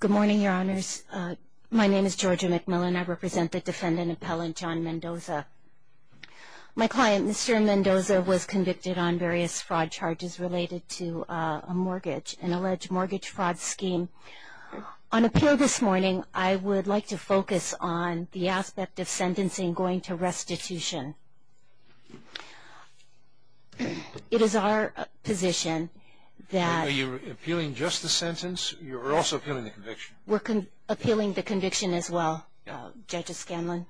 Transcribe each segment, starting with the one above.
Good morning, your honors. My name is Georgia McMillan. I represent the defendant appellant John Mendoza. My client, Mr. Mendoza, was convicted on various fraud charges related to a mortgage, an alleged mortgage fraud scheme. On appeal this morning, I would like to focus on the aspect of sentencing going to restitution. It is our position that... Are you appealing just the sentence? You're also appealing the conviction. We're appealing the conviction as well, Judge Scanlon.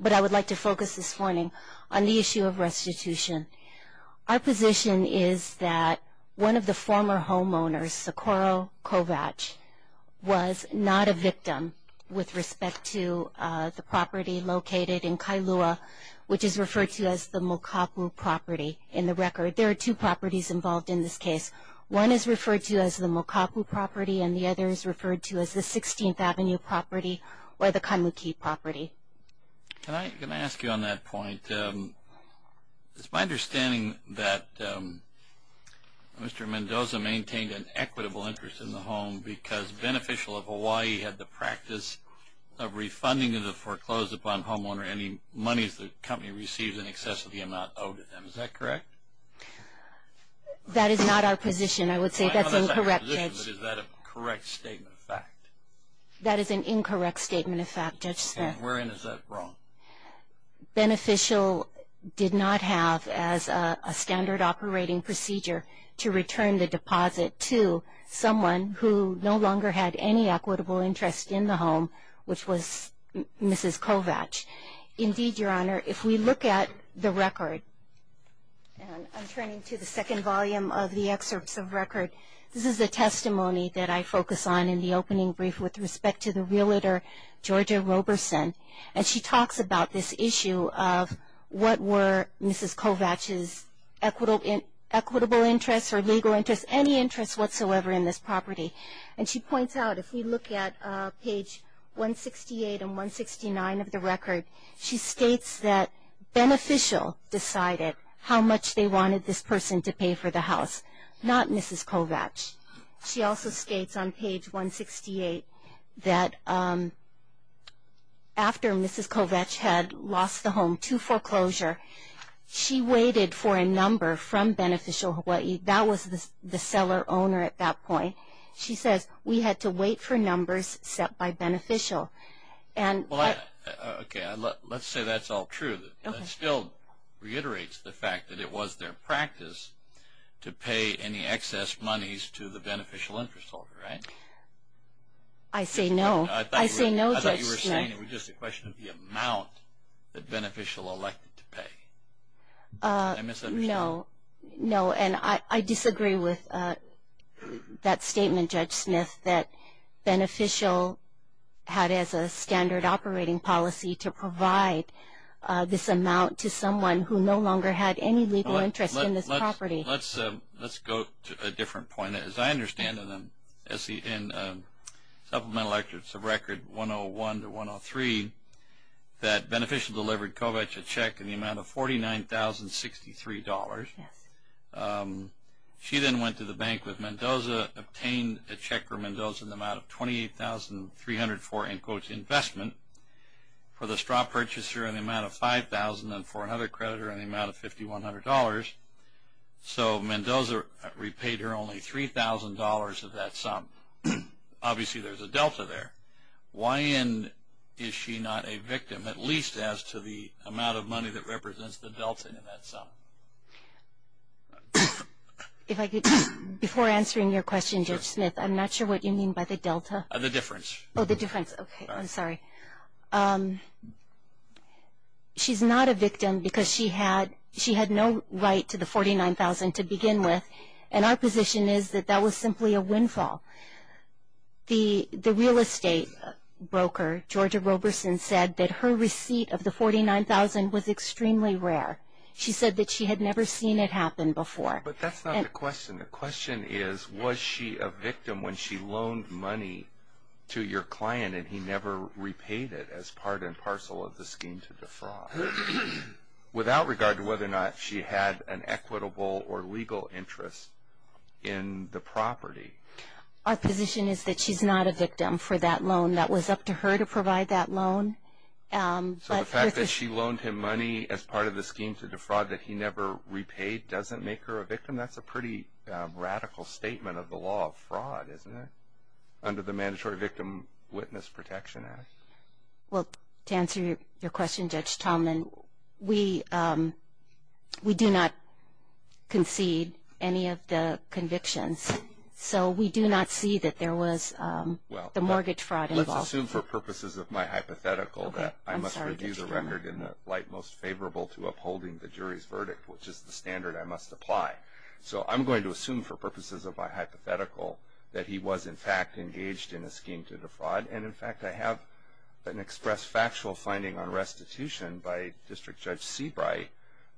But I would like to focus this morning on the issue of restitution. Our position is that one of the former homeowners, Socorro Kovach, was not a victim with respect to the property located in Kailua, which is referred to as the Mokapu property in the record. There are two properties involved in this case. One is referred to as the Mokapu property, and the other is referred to as the 16th Avenue property or the Kaimuki property. Can I ask you on that point? It's my understanding that Mr. Mendoza maintained an equitable interest in the home because Beneficial of Hawaii had the practice of refunding to the foreclosed-upon homeowner any monies the company received in excess of the amount owed to them. Is that correct? That is not our position, I would say. That's incorrect, Judge. Is that a correct statement of fact? That is an incorrect statement of fact, Judge Smith. And wherein is that wrong? Beneficial did not have, as a standard operating procedure, to return the deposit to someone who no longer had any equitable interest in the home, which was Mrs. Kovach. Indeed, Your Honor, if we look at the record, and I'm turning to the second volume of the excerpts of record, this is the testimony that I focus on in the opening brief with respect to the realtor, Georgia Roberson. And she talks about this issue of what were Mrs. Kovach's equitable interests or legal interests, any interests whatsoever in this property. And she points out, if we look at page 168 and 169 of the record, she states that Beneficial decided how much they wanted this person to pay for the house, not Mrs. Kovach. She also states on page 168 that after Mrs. Kovach had lost the home to foreclosure, she waited for a number from Beneficial Hawaii. That was the seller-owner at that point. She says, we had to wait for numbers set by Beneficial. Okay, let's say that's all true. That still reiterates the fact that it was their practice to pay any excess monies to the beneficial interest holder, right? I say no. I say no, Judge Smith. I thought you were saying it was just a question of the amount that Beneficial elected to pay. Did I misunderstand? No. No, and I disagree with that statement, Judge Smith, that Beneficial had as a standard operating policy to provide this amount to someone who no longer had any legal interest in this property. Let's go to a different point. As I understand it, in Supplemental Act, it's a record 101 to 103, that Beneficial delivered Kovach a check in the amount of $49,063. She then went to the bank with Mendoza, obtained a check from Mendoza in the amount of $28,304, in quotes, investment, for the straw purchaser in the amount of $5,000, and for another creditor in the amount of $5,100. So Mendoza repaid her only $3,000 of that sum. Obviously, there's a delta there. Why is she not a victim, at least as to the amount of money that represents the delta in that sum? Before answering your question, Judge Smith, I'm not sure what you mean by the delta. The difference. Oh, the difference. Okay, I'm sorry. She's not a victim because she had no right to the $49,000 to begin with, and our position is that that was simply a windfall. The real estate broker, Georgia Roberson, said that her receipt of the $49,000 was extremely rare. She said that she had never seen it happen before. But that's not the question. The question is, was she a victim when she loaned money to your client and he never repaid it as part and parcel of the scheme to the fraud? Without regard to whether or not she had an equitable or legal interest in the property. Our position is that she's not a victim for that loan. That was up to her to provide that loan. So the fact that she loaned him money as part of the scheme to the fraud that he never repaid doesn't make her a victim? That's a pretty radical statement of the law of fraud, isn't it, under the Mandatory Victim Witness Protection Act? Well, to answer your question, Judge Tallman, we do not concede any of the convictions. So we do not see that there was the mortgage fraud involved. Let's assume for purposes of my hypothetical that I must review the record in the light most favorable to upholding the jury's verdict, which is the standard I must apply. So I'm going to assume for purposes of my hypothetical that he was, in fact, engaged in a scheme to the fraud. And, in fact, I have an expressed factual finding on restitution by District Judge Seabright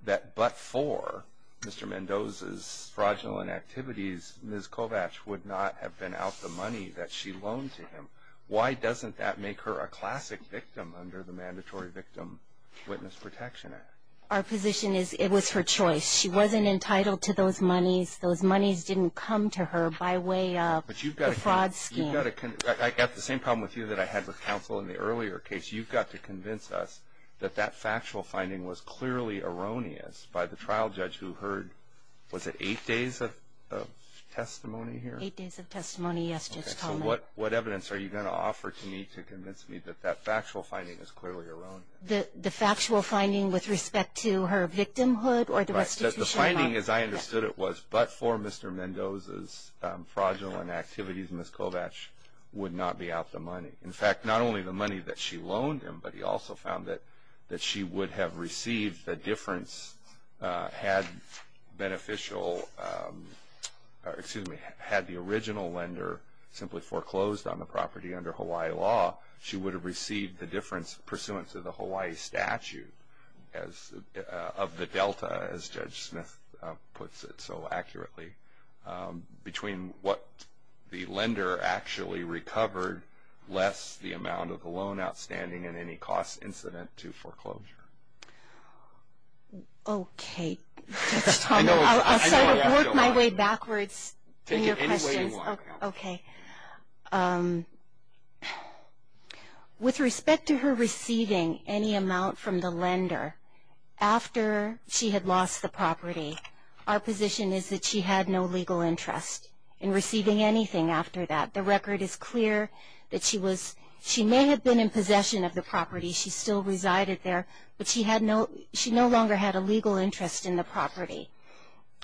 that but for Mr. Mendoza's fraudulent activities, Ms. Kovach would not have been out the money that she loaned to him. Why doesn't that make her a classic victim under the Mandatory Victim Witness Protection Act? Our position is it was her choice. She wasn't entitled to those monies. Those monies didn't come to her by way of the fraud scheme. I've got the same problem with you that I had with counsel in the earlier case. You've got to convince us that that factual finding was clearly erroneous by the trial judge who heard, was it eight days of testimony here? Eight days of testimony, yes, Judge Tallman. So what evidence are you going to offer to me to convince me that that factual finding is clearly erroneous? The factual finding with respect to her victimhood or the restitution? The finding, as I understood it, was but for Mr. Mendoza's fraudulent activities, Ms. Kovach would not be out the money. In fact, not only the money that she loaned him, but he also found that she would have received the difference had beneficial, or excuse me, had the original lender simply foreclosed on the property under Hawaii law, she would have received the difference pursuant to the Hawaii statute of the delta, as Judge Smith puts it so accurately, between what the lender actually recovered less the amount of the loan outstanding and any cost incident to foreclosure. Okay, Judge Tallman. I'll work my way backwards in your questions. Okay. With respect to her receiving any amount from the lender after she had lost the property, our position is that she had no legal interest in receiving anything after that. The record is clear that she may have been in possession of the property, she still resided there, but she no longer had a legal interest in the property.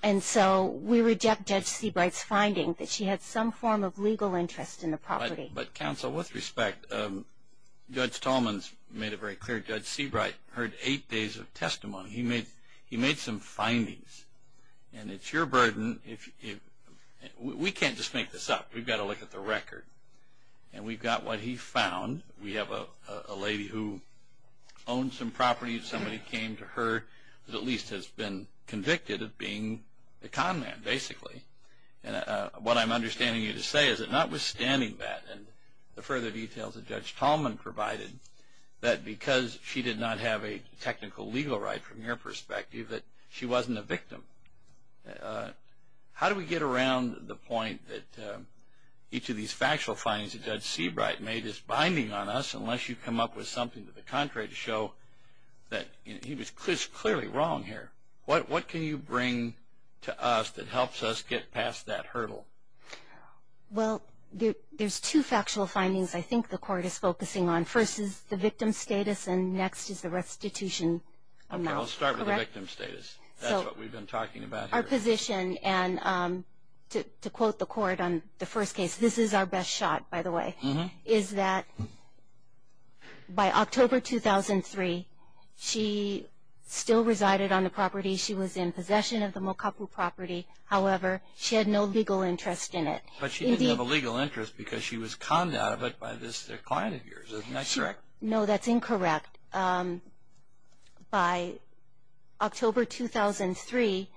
And so we reject Judge Seabright's finding that she had some form of legal interest in the property. But counsel, with respect, Judge Tallman's made it very clear. Judge Seabright heard eight days of testimony. He made some findings, and it's your burden. We can't just make this up. We've got to look at the record, and we've got what he found. We have a lady who owns some property. Somebody came to her who at least has been convicted of being a con man, basically. What I'm understanding you to say is that notwithstanding that and the further details that Judge Tallman provided, that because she did not have a technical legal right from your perspective, that she wasn't a victim. How do we get around the point that each of these factual findings that Judge Seabright made is binding on us and something to the contrary to show that he was clearly wrong here? What can you bring to us that helps us get past that hurdle? Well, there's two factual findings I think the court is focusing on. First is the victim status, and next is the restitution amount. Okay, I'll start with the victim status. That's what we've been talking about here. Our position, and to quote the court on the first case, this is our best shot, by the way, is that by October 2003, she still resided on the property. She was in possession of the Mokapu property. However, she had no legal interest in it. But she didn't have a legal interest because she was conned out of it by this client of yours, isn't that correct? No, that's incorrect. By October 2003,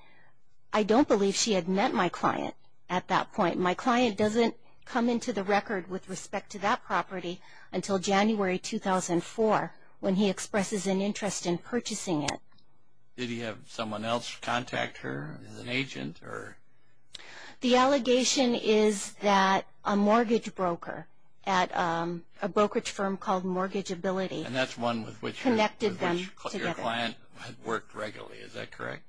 I don't believe she had met my client at that point. My client doesn't come into the record with respect to that property until January 2004 when he expresses an interest in purchasing it. Did he have someone else contact her as an agent? The allegation is that a mortgage broker at a brokerage firm called Mortgage Ability connected them together. And that's one with which your client had worked regularly, is that correct?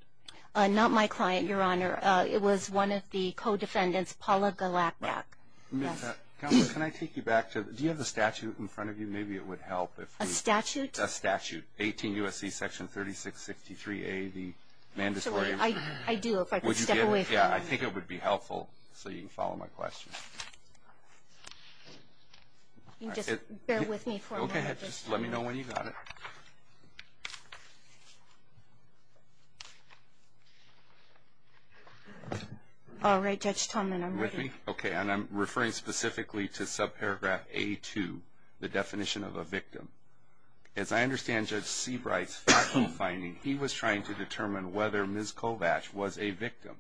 Not my client, Your Honor. It was one of the co-defendants, Paula Galakdak. Counselor, can I take you back to the statute in front of you? Maybe it would help. A statute? A statute, 18 U.S.C. section 3663A, the mandatory insurance. I do, if I could step away for a moment. I think it would be helpful so you can follow my question. Just bear with me for a moment. Go ahead. Just let me know when you've got it. All right, Judge Tallman, I'm ready. Are you with me? Okay. And I'm referring specifically to subparagraph A-2, the definition of a victim. As I understand Judge Seabright's factual finding, he was trying to determine whether Ms. Kovach was a victim,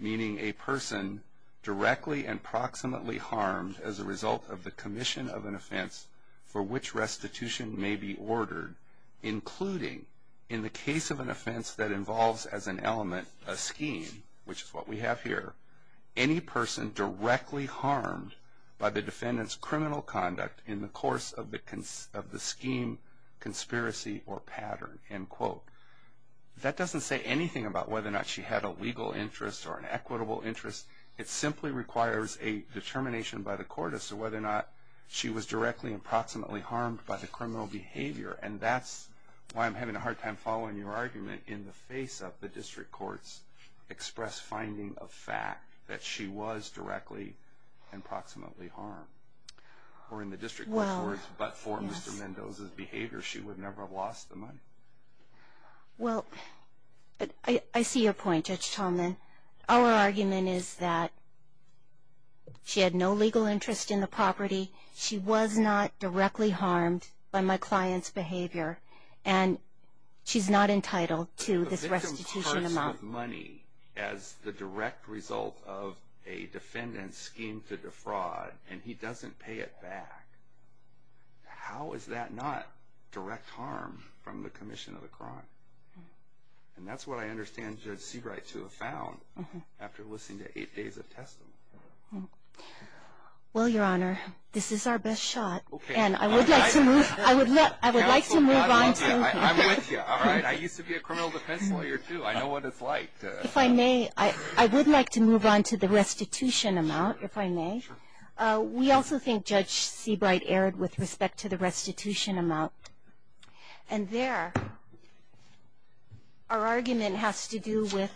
meaning a person directly and proximately harmed as a result of the commission of an offense for which restitution may be ordered, including in the case of an offense that involves as an element a scheme, which is what we have here, any person directly harmed by the defendant's criminal conduct in the course of the scheme, conspiracy, or pattern, end quote. That doesn't say anything about whether or not she had a legal interest or an equitable interest. It simply requires a determination by the court as to whether or not she was directly and proximately harmed by the criminal behavior, and that's why I'm having a hard time following your argument in the face of the district court's express finding of fact that she was directly and proximately harmed. Or in the district court's words, but for Mr. Mendoza's behavior, she would never have lost the money. Well, I see your point, Judge Tallman. Our argument is that she had no legal interest in the property. She was not directly harmed by my client's behavior, and she's not entitled to this restitution amount. If she was harmed with money as the direct result of a defendant's scheme to defraud, and he doesn't pay it back, how is that not direct harm from the commission of the crime? And that's what I understand Judge Seabright to have found after listening to eight days of testimony. Well, Your Honor, this is our best shot, and I would like to move on. I'm with you. All right. I used to be a criminal defense lawyer, too. I know what it's like. If I may, I would like to move on to the restitution amount, if I may. We also think Judge Seabright erred with respect to the restitution amount. And there, our argument has to do with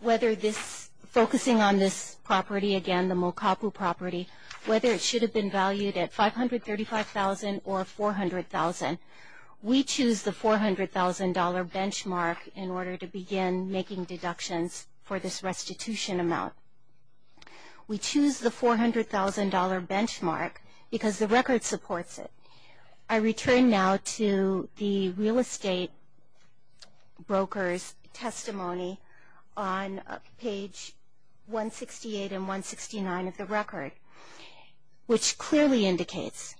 whether this, focusing on this property again, the Mokapu property, whether it should have been valued at $535,000 or $400,000. We choose the $400,000 benchmark in order to begin making deductions for this restitution amount. We choose the $400,000 benchmark because the record supports it. I return now to the real estate broker's testimony on page 168 and 169 of the record, which clearly indicates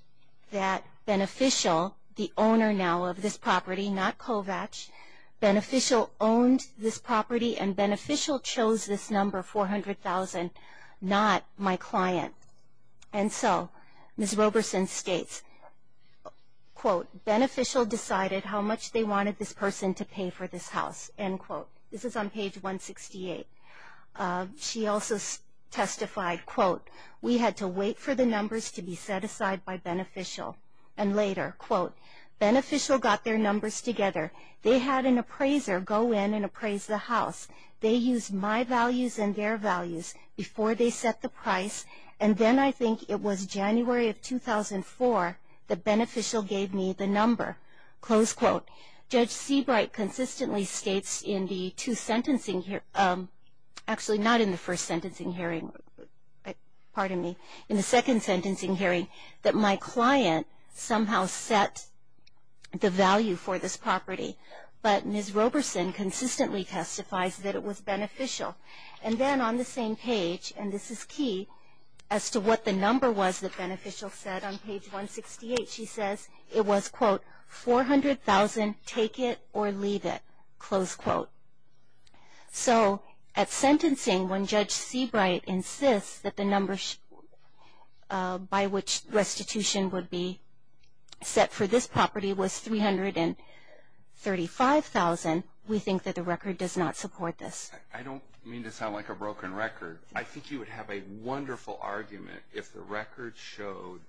that Beneficial, the owner now of this property, not Kovach, Beneficial owned this property and Beneficial chose this number, $400,000, not my client. And so Ms. Roberson states, quote, Beneficial decided how much they wanted this person to pay for this house, end quote. This is on page 168. She also testified, quote, We had to wait for the numbers to be set aside by Beneficial. And later, quote, Beneficial got their numbers together. They had an appraiser go in and appraise the house. They used my values and their values before they set the price. And then I think it was January of 2004 that Beneficial gave me the number, close quote. Judge Seabright consistently states in the two sentencing, actually not in the first sentencing hearing, pardon me, in the second sentencing hearing, that my client somehow set the value for this property. But Ms. Roberson consistently testifies that it was Beneficial. And then on the same page, and this is key as to what the number was that Beneficial said on page 168, she says it was, quote, 400,000, take it or leave it, close quote. So at sentencing, when Judge Seabright insists that the numbers by which restitution would be set for this property was 335,000, we think that the record does not support this. I don't mean to sound like a broken record. I think you would have a wonderful argument if the record showed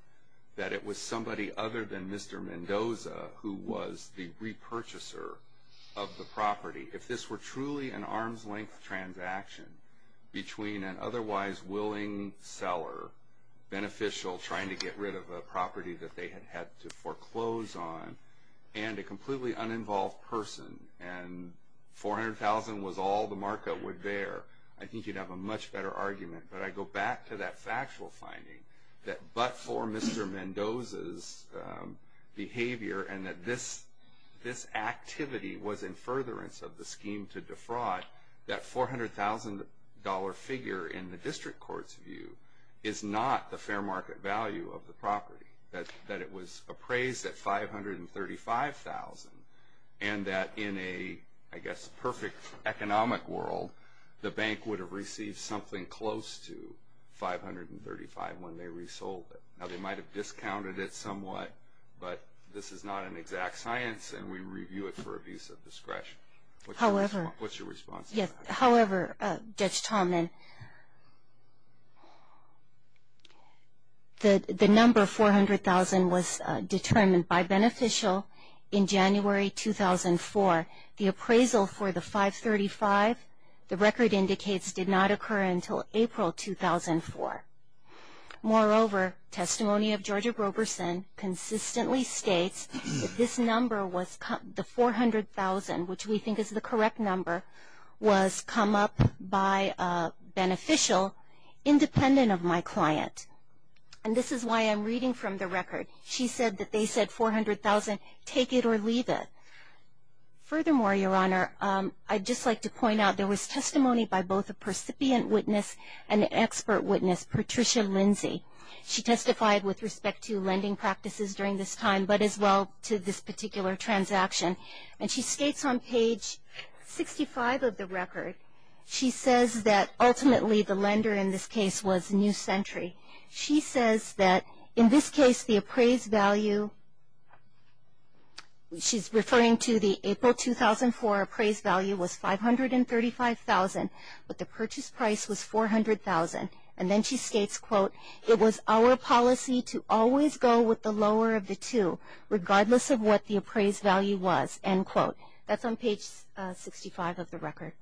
that it was somebody other than Mr. Mendoza, who was the repurchaser of the property. If this were truly an arm's length transaction between an otherwise willing seller, Beneficial trying to get rid of a property that they had had to foreclose on, and a completely uninvolved person, and 400,000 was all the market would bear, I think you'd have a much better argument. But I go back to that factual finding that but for Mr. Mendoza's behavior, and that this activity was in furtherance of the scheme to defraud, that $400,000 figure in the district court's view is not the fair market value of the property, that it was appraised at 535,000, and that in a, I guess, perfect economic world, the bank would have received something close to 535,000 when they resold it. Now, they might have discounted it somewhat, but this is not an exact science, and we review it for abuse of discretion. What's your response to that? However, Judge Tallman, the number 400,000 was determined by Beneficial in January 2004. The appraisal for the 535, the record indicates did not occur until April 2004. Moreover, testimony of Georgia Groberson consistently states that this number was, the 400,000, which we think is the correct number, was come up by Beneficial independent of my client. And this is why I'm reading from the record. She said that they said 400,000, take it or leave it. Furthermore, Your Honor, I'd just like to point out there was testimony by both a percipient witness and an expert witness, Patricia Lindsey. She testified with respect to lending practices during this time, but as well to this particular transaction. And she states on page 65 of the record, she says that ultimately the lender in this case was New Century. She says that in this case the appraised value, she's referring to the April 2004 appraised value was 535,000, but the purchase price was 400,000. And then she states, quote, it was our policy to always go with the lower of the two, regardless of what the appraised value was, end quote. That's on page 65 of the record.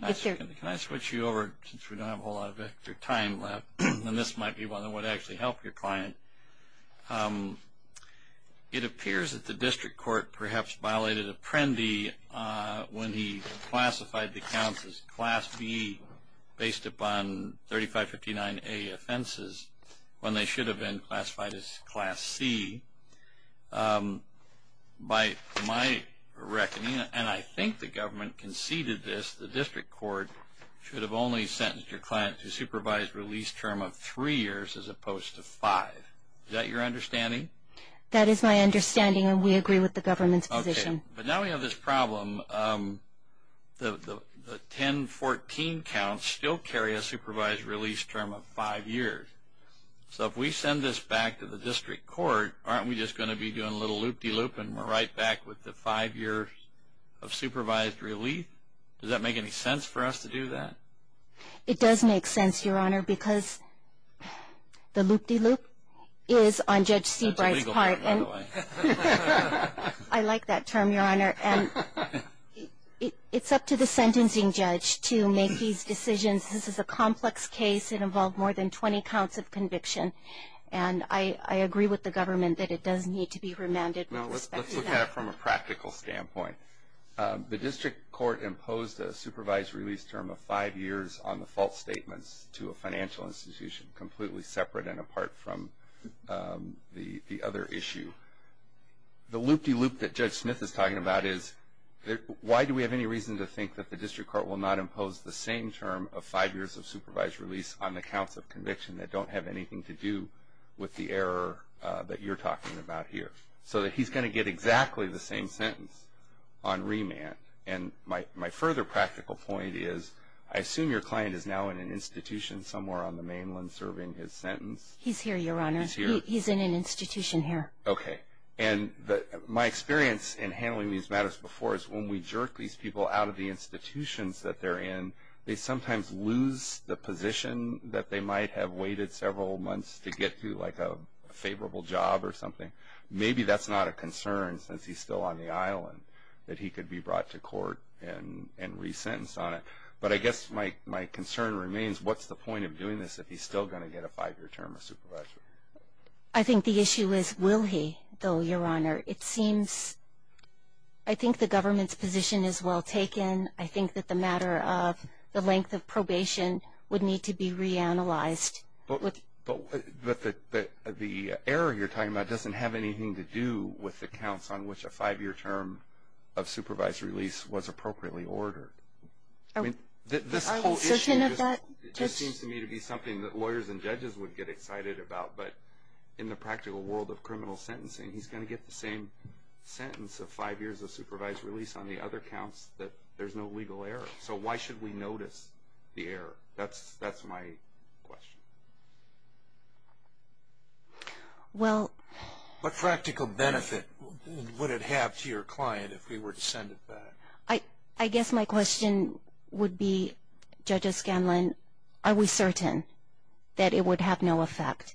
Can I switch you over, since we don't have a whole lot of time left, and this might be one that would actually help your client. It appears that the district court perhaps violated Apprendi when he classified the accounts as Class B, based upon 3559A offenses, when they should have been classified as Class C. By my reckoning, and I think the government conceded this, the district court should have only sentenced your client to a supervised release term of three years as opposed to five. Is that your understanding? That is my understanding, and we agree with the government's position. Okay, but now we have this problem. The 1014 counts still carry a supervised release term of five years. So if we send this back to the district court, aren't we just going to be doing a little loop-de-loop and we're right back with the five years of supervised release? Does that make any sense for us to do that? It does make sense, Your Honor, because the loop-de-loop is on Judge Seabright's part. That's a legal term, by the way. I like that term, Your Honor. It's up to the sentencing judge to make these decisions. This is a complex case. It involved more than 20 counts of conviction, and I agree with the government that it does need to be remanded with respect to that. Let's look at it from a practical standpoint. The district court imposed a supervised release term of five years on the false statements to a financial institution, completely separate and apart from the other issue. The loop-de-loop that Judge Smith is talking about is, why do we have any reason to think that the district court will not impose the same term of five years of supervised release on the counts of conviction that don't have anything to do with the error that you're talking about here? So he's going to get exactly the same sentence on remand. And my further practical point is I assume your client is now in an institution somewhere on the mainland serving his sentence. He's here, Your Honor. He's here? He's in an institution here. Okay. And my experience in handling these matters before is when we jerk these people out of the institutions that they're in, they sometimes lose the position that they might have waited several months to get to, like a favorable job or something. Maybe that's not a concern since he's still on the island, that he could be brought to court and resentenced on it. But I guess my concern remains, what's the point of doing this if he's still going to get a five-year term of supervision? I think the issue is will he, though, Your Honor. It seems I think the government's position is well taken. I think that the matter of the length of probation would need to be reanalyzed. But the error you're talking about doesn't have anything to do with the counts on which a five-year term of supervised release was appropriately ordered. I mean, this whole issue just seems to me to be something that lawyers and judges would get excited about. But in the practical world of criminal sentencing, he's going to get the same sentence of five years of supervised release on the other counts that there's no legal error. So why should we notice the error? That's my question. Well. What practical benefit would it have to your client if we were to send it back? I guess my question would be, Judge O'Scanlan, are we certain that it would have no effect?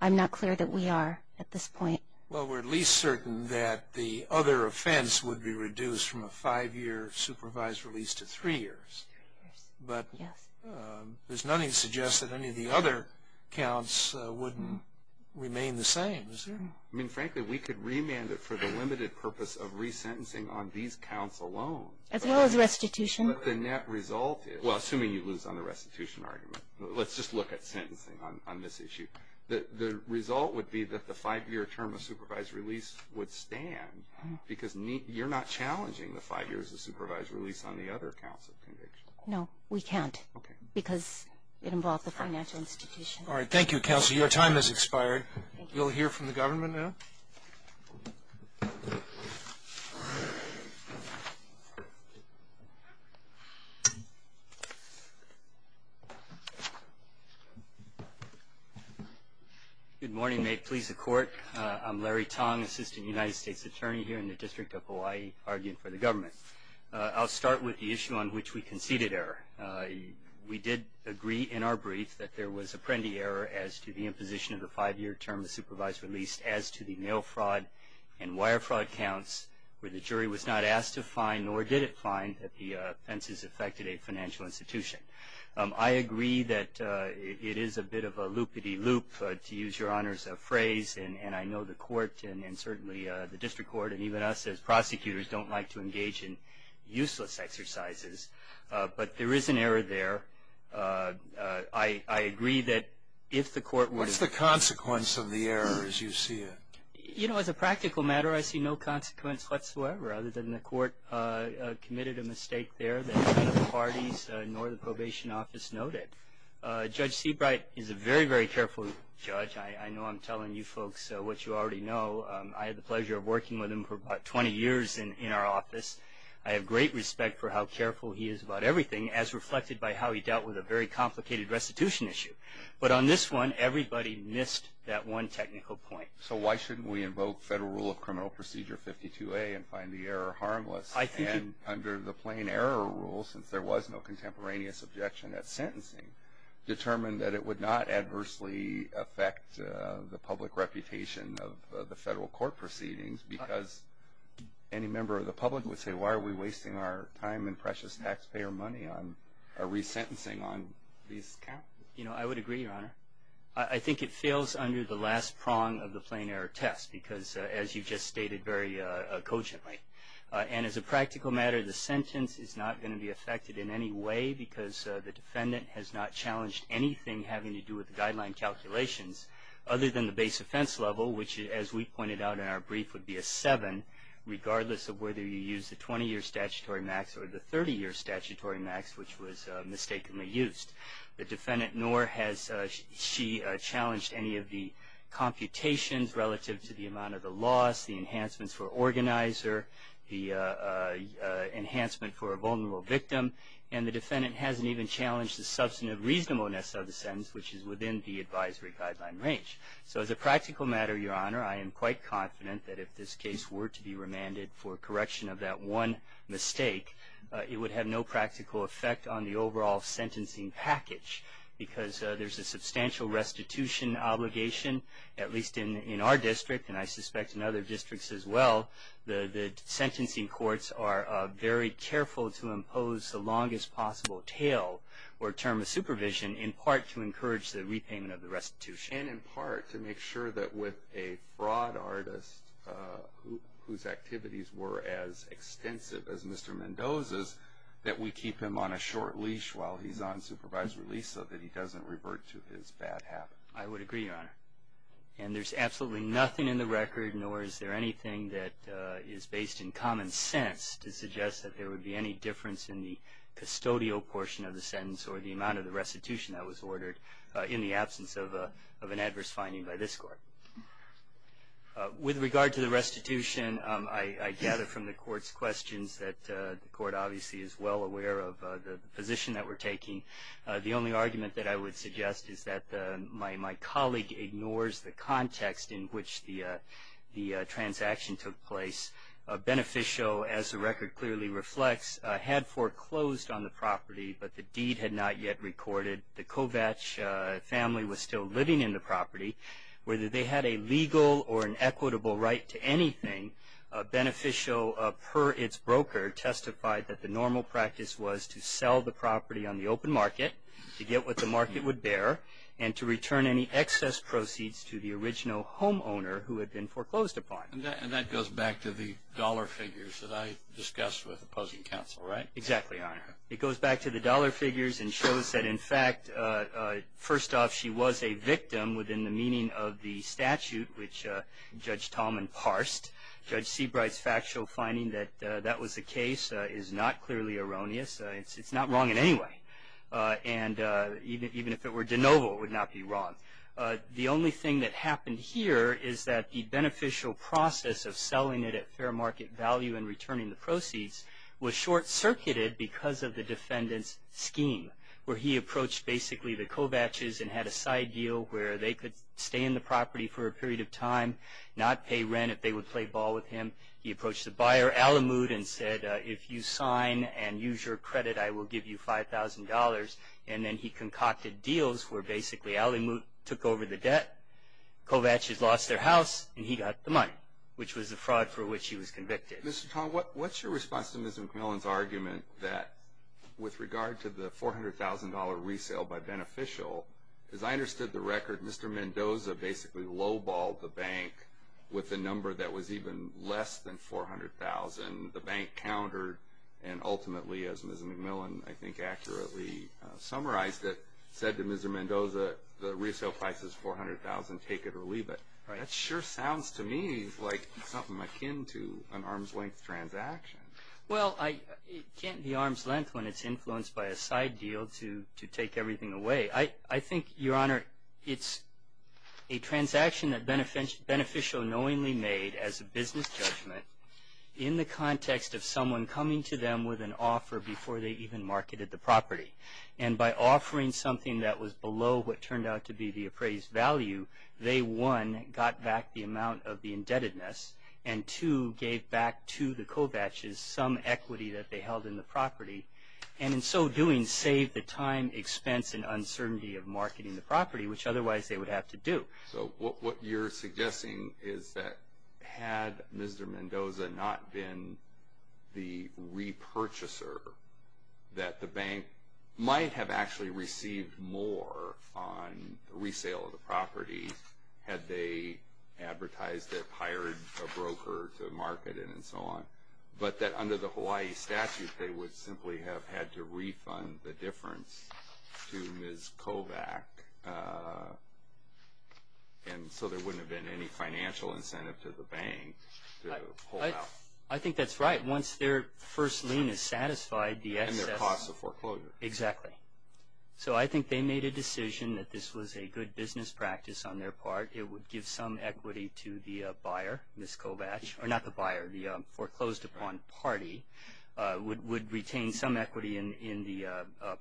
I'm not clear that we are at this point. Well, we're at least certain that the other offense would be reduced from a five-year supervised release to three years. But there's nothing to suggest that any of the other counts wouldn't remain the same, is there? I mean, frankly, we could remand it for the limited purpose of resentencing on these counts alone. As well as restitution. But the net result is – well, assuming you lose on the restitution argument. Let's just look at sentencing on this issue. The result would be that the five-year term of supervised release would stand, because you're not challenging the five years of supervised release on the other counts of conviction. No, we can't. Okay. Because it involves the financial institution. All right. Thank you, Counselor. Your time has expired. Thank you. You'll hear from the government now. Good morning. May it please the Court. I'm Larry Tong, Assistant United States Attorney here in the District of Hawaii, arguing for the government. I'll start with the issue on which we conceded error. We did agree in our brief that there was apprendee error as to the imposition of the five-year term of supervised release as to the mail fraud and wire fraud counts, where the jury was not asked to find nor did it find that the offenses affected a financial institution. I agree that it is a bit of a loop-a-dee-loop, to use Your Honor's phrase, and I know the court and certainly the district court and even us as prosecutors don't like to engage in useless exercises. But there is an error there. I agree that if the court would have been. What's the consequence of the error as you see it? You know, as a practical matter, I see no consequence whatsoever, other than the court committed a mistake there that neither the parties nor the probation office noted. Judge Seabright is a very, very careful judge. I know I'm telling you folks what you already know. I had the pleasure of working with him for about 20 years in our office. I have great respect for how careful he is about everything, as reflected by how he dealt with a very complicated restitution issue. But on this one, everybody missed that one technical point. So why shouldn't we invoke Federal Rule of Criminal Procedure 52A and find the error harmless? And under the plain error rule, since there was no contemporaneous objection at sentencing, determine that it would not adversely affect the public reputation of the federal court proceedings because any member of the public would say, why are we wasting our time and precious taxpayer money on a resentencing on these counts? You know, I would agree, Your Honor. I think it fails under the last prong of the plain error test because, as you just stated very cogently. And as a practical matter, the sentence is not going to be affected in any way because the defendant has not challenged anything having to do with the guideline calculations, other than the base offense level, which, as we pointed out in our brief, would be a seven, regardless of whether you use the 20-year statutory max or the 30-year statutory max, which was mistakenly used. The defendant nor has she challenged any of the computations relative to the amount of the loss, the enhancements for organizer, the enhancement for a vulnerable victim, and the defendant hasn't even challenged the substantive reasonableness of the sentence, which is within the advisory guideline range. So as a practical matter, Your Honor, I am quite confident that if this case were to be remanded for correction of that one mistake, it would have no practical effect on the overall sentencing package because there's a substantial restitution obligation, at least in our district, and I suspect in other districts as well. The sentencing courts are very careful to impose the longest possible tail or term of supervision, in part to encourage the repayment of the restitution. And in part to make sure that with a fraud artist whose activities were as extensive as Mr. Mendoza's, that we keep him on a short leash while he's on supervisory leave so that he doesn't revert to his bad habits. I would agree, Your Honor. And there's absolutely nothing in the record, nor is there anything that is based in common sense, to suggest that there would be any difference in the custodial portion of the sentence or the amount of the restitution that was ordered in the absence of an adverse finding by this court. With regard to the restitution, I gather from the court's questions that the court obviously is well aware of the position that we're taking. The only argument that I would suggest is that my colleague ignores the context in which the transaction took place. Beneficial, as the record clearly reflects, had foreclosed on the property, but the deed had not yet recorded. The Kovach family was still living in the property. Whether they had a legal or an equitable right to anything, Beneficial, per its broker, testified that the normal practice was to sell the property on the open market, to get what the market would bear, and to return any excess proceeds to the original homeowner who had been foreclosed upon. And that goes back to the dollar figures that I discussed with opposing counsel, right? Exactly, Your Honor. It goes back to the dollar figures and shows that, in fact, first off, she was a victim within the meaning of the statute which Judge Tallman parsed. Judge Seabright's factual finding that that was the case is not clearly erroneous. It's not wrong in any way. And even if it were de novo, it would not be wrong. The only thing that happened here is that the Beneficial process of selling it at fair market value and returning the proceeds was short-circuited because of the defendant's scheme, where he approached basically the Kovaches and had a side deal where they could stay in the property for a period of time, not pay rent if they would play ball with him. He approached the buyer, Alamut, and said, if you sign and use your credit, I will give you $5,000. And then he concocted deals where basically Alamut took over the debt, Kovaches lost their house, and he got the money, which was the fraud for which he was convicted. Mr. Tallman, what's your response to Ms. McMillan's argument that, with regard to the $400,000 resale by Beneficial, as I understood the record, Mr. Mendoza basically low-balled the bank with a number that was even less than $400,000. The bank countered and ultimately, as Ms. McMillan I think accurately summarized it, said to Mr. Mendoza, the resale price is $400,000, take it or leave it. That sure sounds to me like something akin to an arm's-length transaction. Well, it can't be arm's-length when it's influenced by a side deal to take everything away. I think, Your Honor, it's a transaction that Beneficial knowingly made as a business judgment in the context of someone coming to them with an offer before they even marketed the property. And by offering something that was below what turned out to be the appraised value, they, one, got back the amount of the indebtedness and, two, gave back to the Kovacs some equity that they held in the property. And in so doing, saved the time, expense, and uncertainty of marketing the property, which otherwise they would have to do. So what you're suggesting is that had Mr. Mendoza not been the repurchaser, that the bank might have actually received more on the resale of the property had they advertised it, hired a broker to market it, and so on. But that under the Hawaii statute, they would simply have had to refund the difference to Ms. Kovac, and so there wouldn't have been any financial incentive to the bank to hold out. I think that's right. Once their first lien is satisfied, the excess. And their cost of foreclosure. Exactly. So I think they made a decision that this was a good business practice on their part. It would give some equity to the buyer, Ms. Kovac, or not the buyer, the foreclosed upon party, would retain some equity in the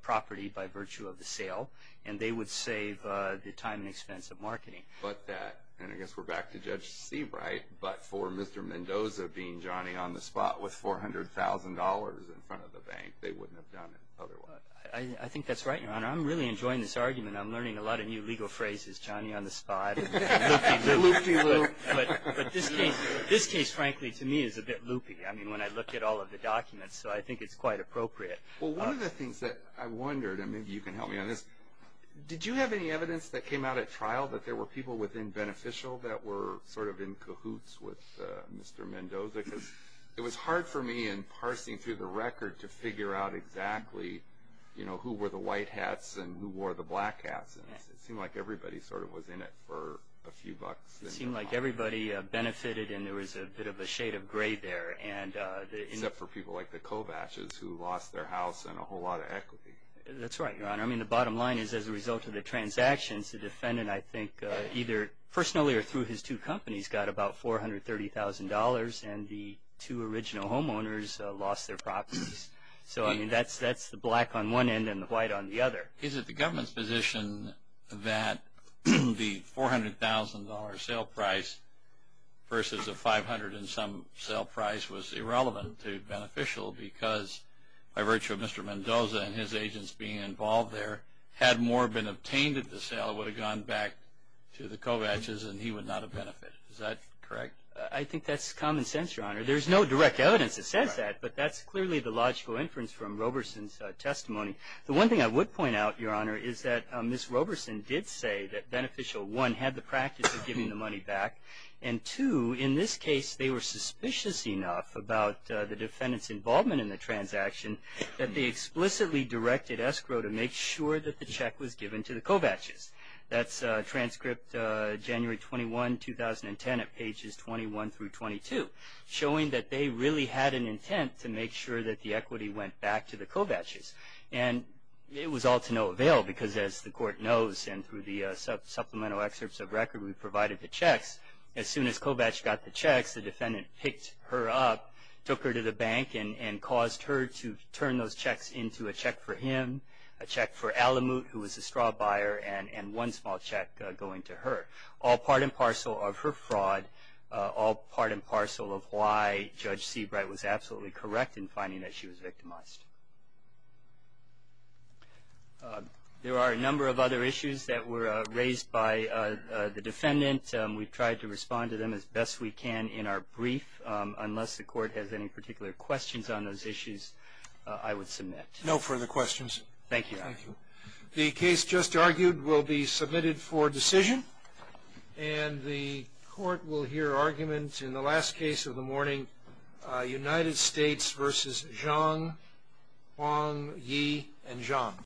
property by virtue of the sale, and they would save the time and expense of marketing. But that, and I guess we're back to Judge Seabright, but for Mr. Mendoza being Johnny-on-the-spot with $400,000 in front of the bank, they wouldn't have done it otherwise. I think that's right, Your Honor. I'm really enjoying this argument. I'm learning a lot of new legal phrases, Johnny-on-the-spot, loop-de-loop. Loop-de-loop. But this case, frankly, to me is a bit loopy, I mean, when I look at all of the documents, so I think it's quite appropriate. Well, one of the things that I wondered, and maybe you can help me on this, did you have any evidence that came out at trial that there were people within Beneficial that were sort of in cahoots with Mr. Mendoza? Because it was hard for me in parsing through the record to figure out exactly, you know, who were the white hats and who wore the black hats. It seemed like everybody sort of was in it for a few bucks. It seemed like everybody benefited, and there was a bit of a shade of gray there. Except for people like the Kovaches, who lost their house and a whole lot of equity. That's right, Your Honor. I mean, the bottom line is, as a result of the transactions, the defendant I think either personally or through his two companies got about $430,000 and the two original homeowners lost their properties. So, I mean, that's the black on one end and the white on the other. Is it the government's position that the $400,000 sale price versus the $500,000 and some sale price was irrelevant to Beneficial because by virtue of Mr. Mendoza and his agents being involved there, had more been obtained at the sale, it would have gone back to the Kovaches and he would not have benefited. Is that correct? I think that's common sense, Your Honor. There's no direct evidence that says that, but that's clearly the logical inference from Roberson's testimony. The one thing I would point out, Your Honor, is that Ms. Roberson did say that Beneficial, one, had the practice of giving the money back, and two, in this case, they were suspicious enough about the defendant's involvement in the transaction that they explicitly directed escrow to make sure that the check was given to the Kovaches. That's transcript January 21, 2010 at pages 21 through 22, showing that they really had an intent to make sure that the equity went back to the Kovaches. And it was all to no avail because, as the Court knows, and through the supplemental excerpts of record we provided the checks, as soon as Kovach got the checks, the defendant picked her up, took her to the bank, and caused her to turn those checks into a check for him, a check for Alamut, who was a straw buyer, and one small check going to her, all part and parcel of her fraud, all part and parcel of why Judge Seabright was absolutely correct in finding that she was victimized. There are a number of other issues that were raised by the defendant. We've tried to respond to them as best we can in our brief. Unless the Court has any particular questions on those issues, I would submit. No further questions. Thank you. Thank you. The case just argued will be submitted for decision, and the Court will hear arguments in the last case of the morning, United States v. Zhang, Huang, Yi, and Zhang.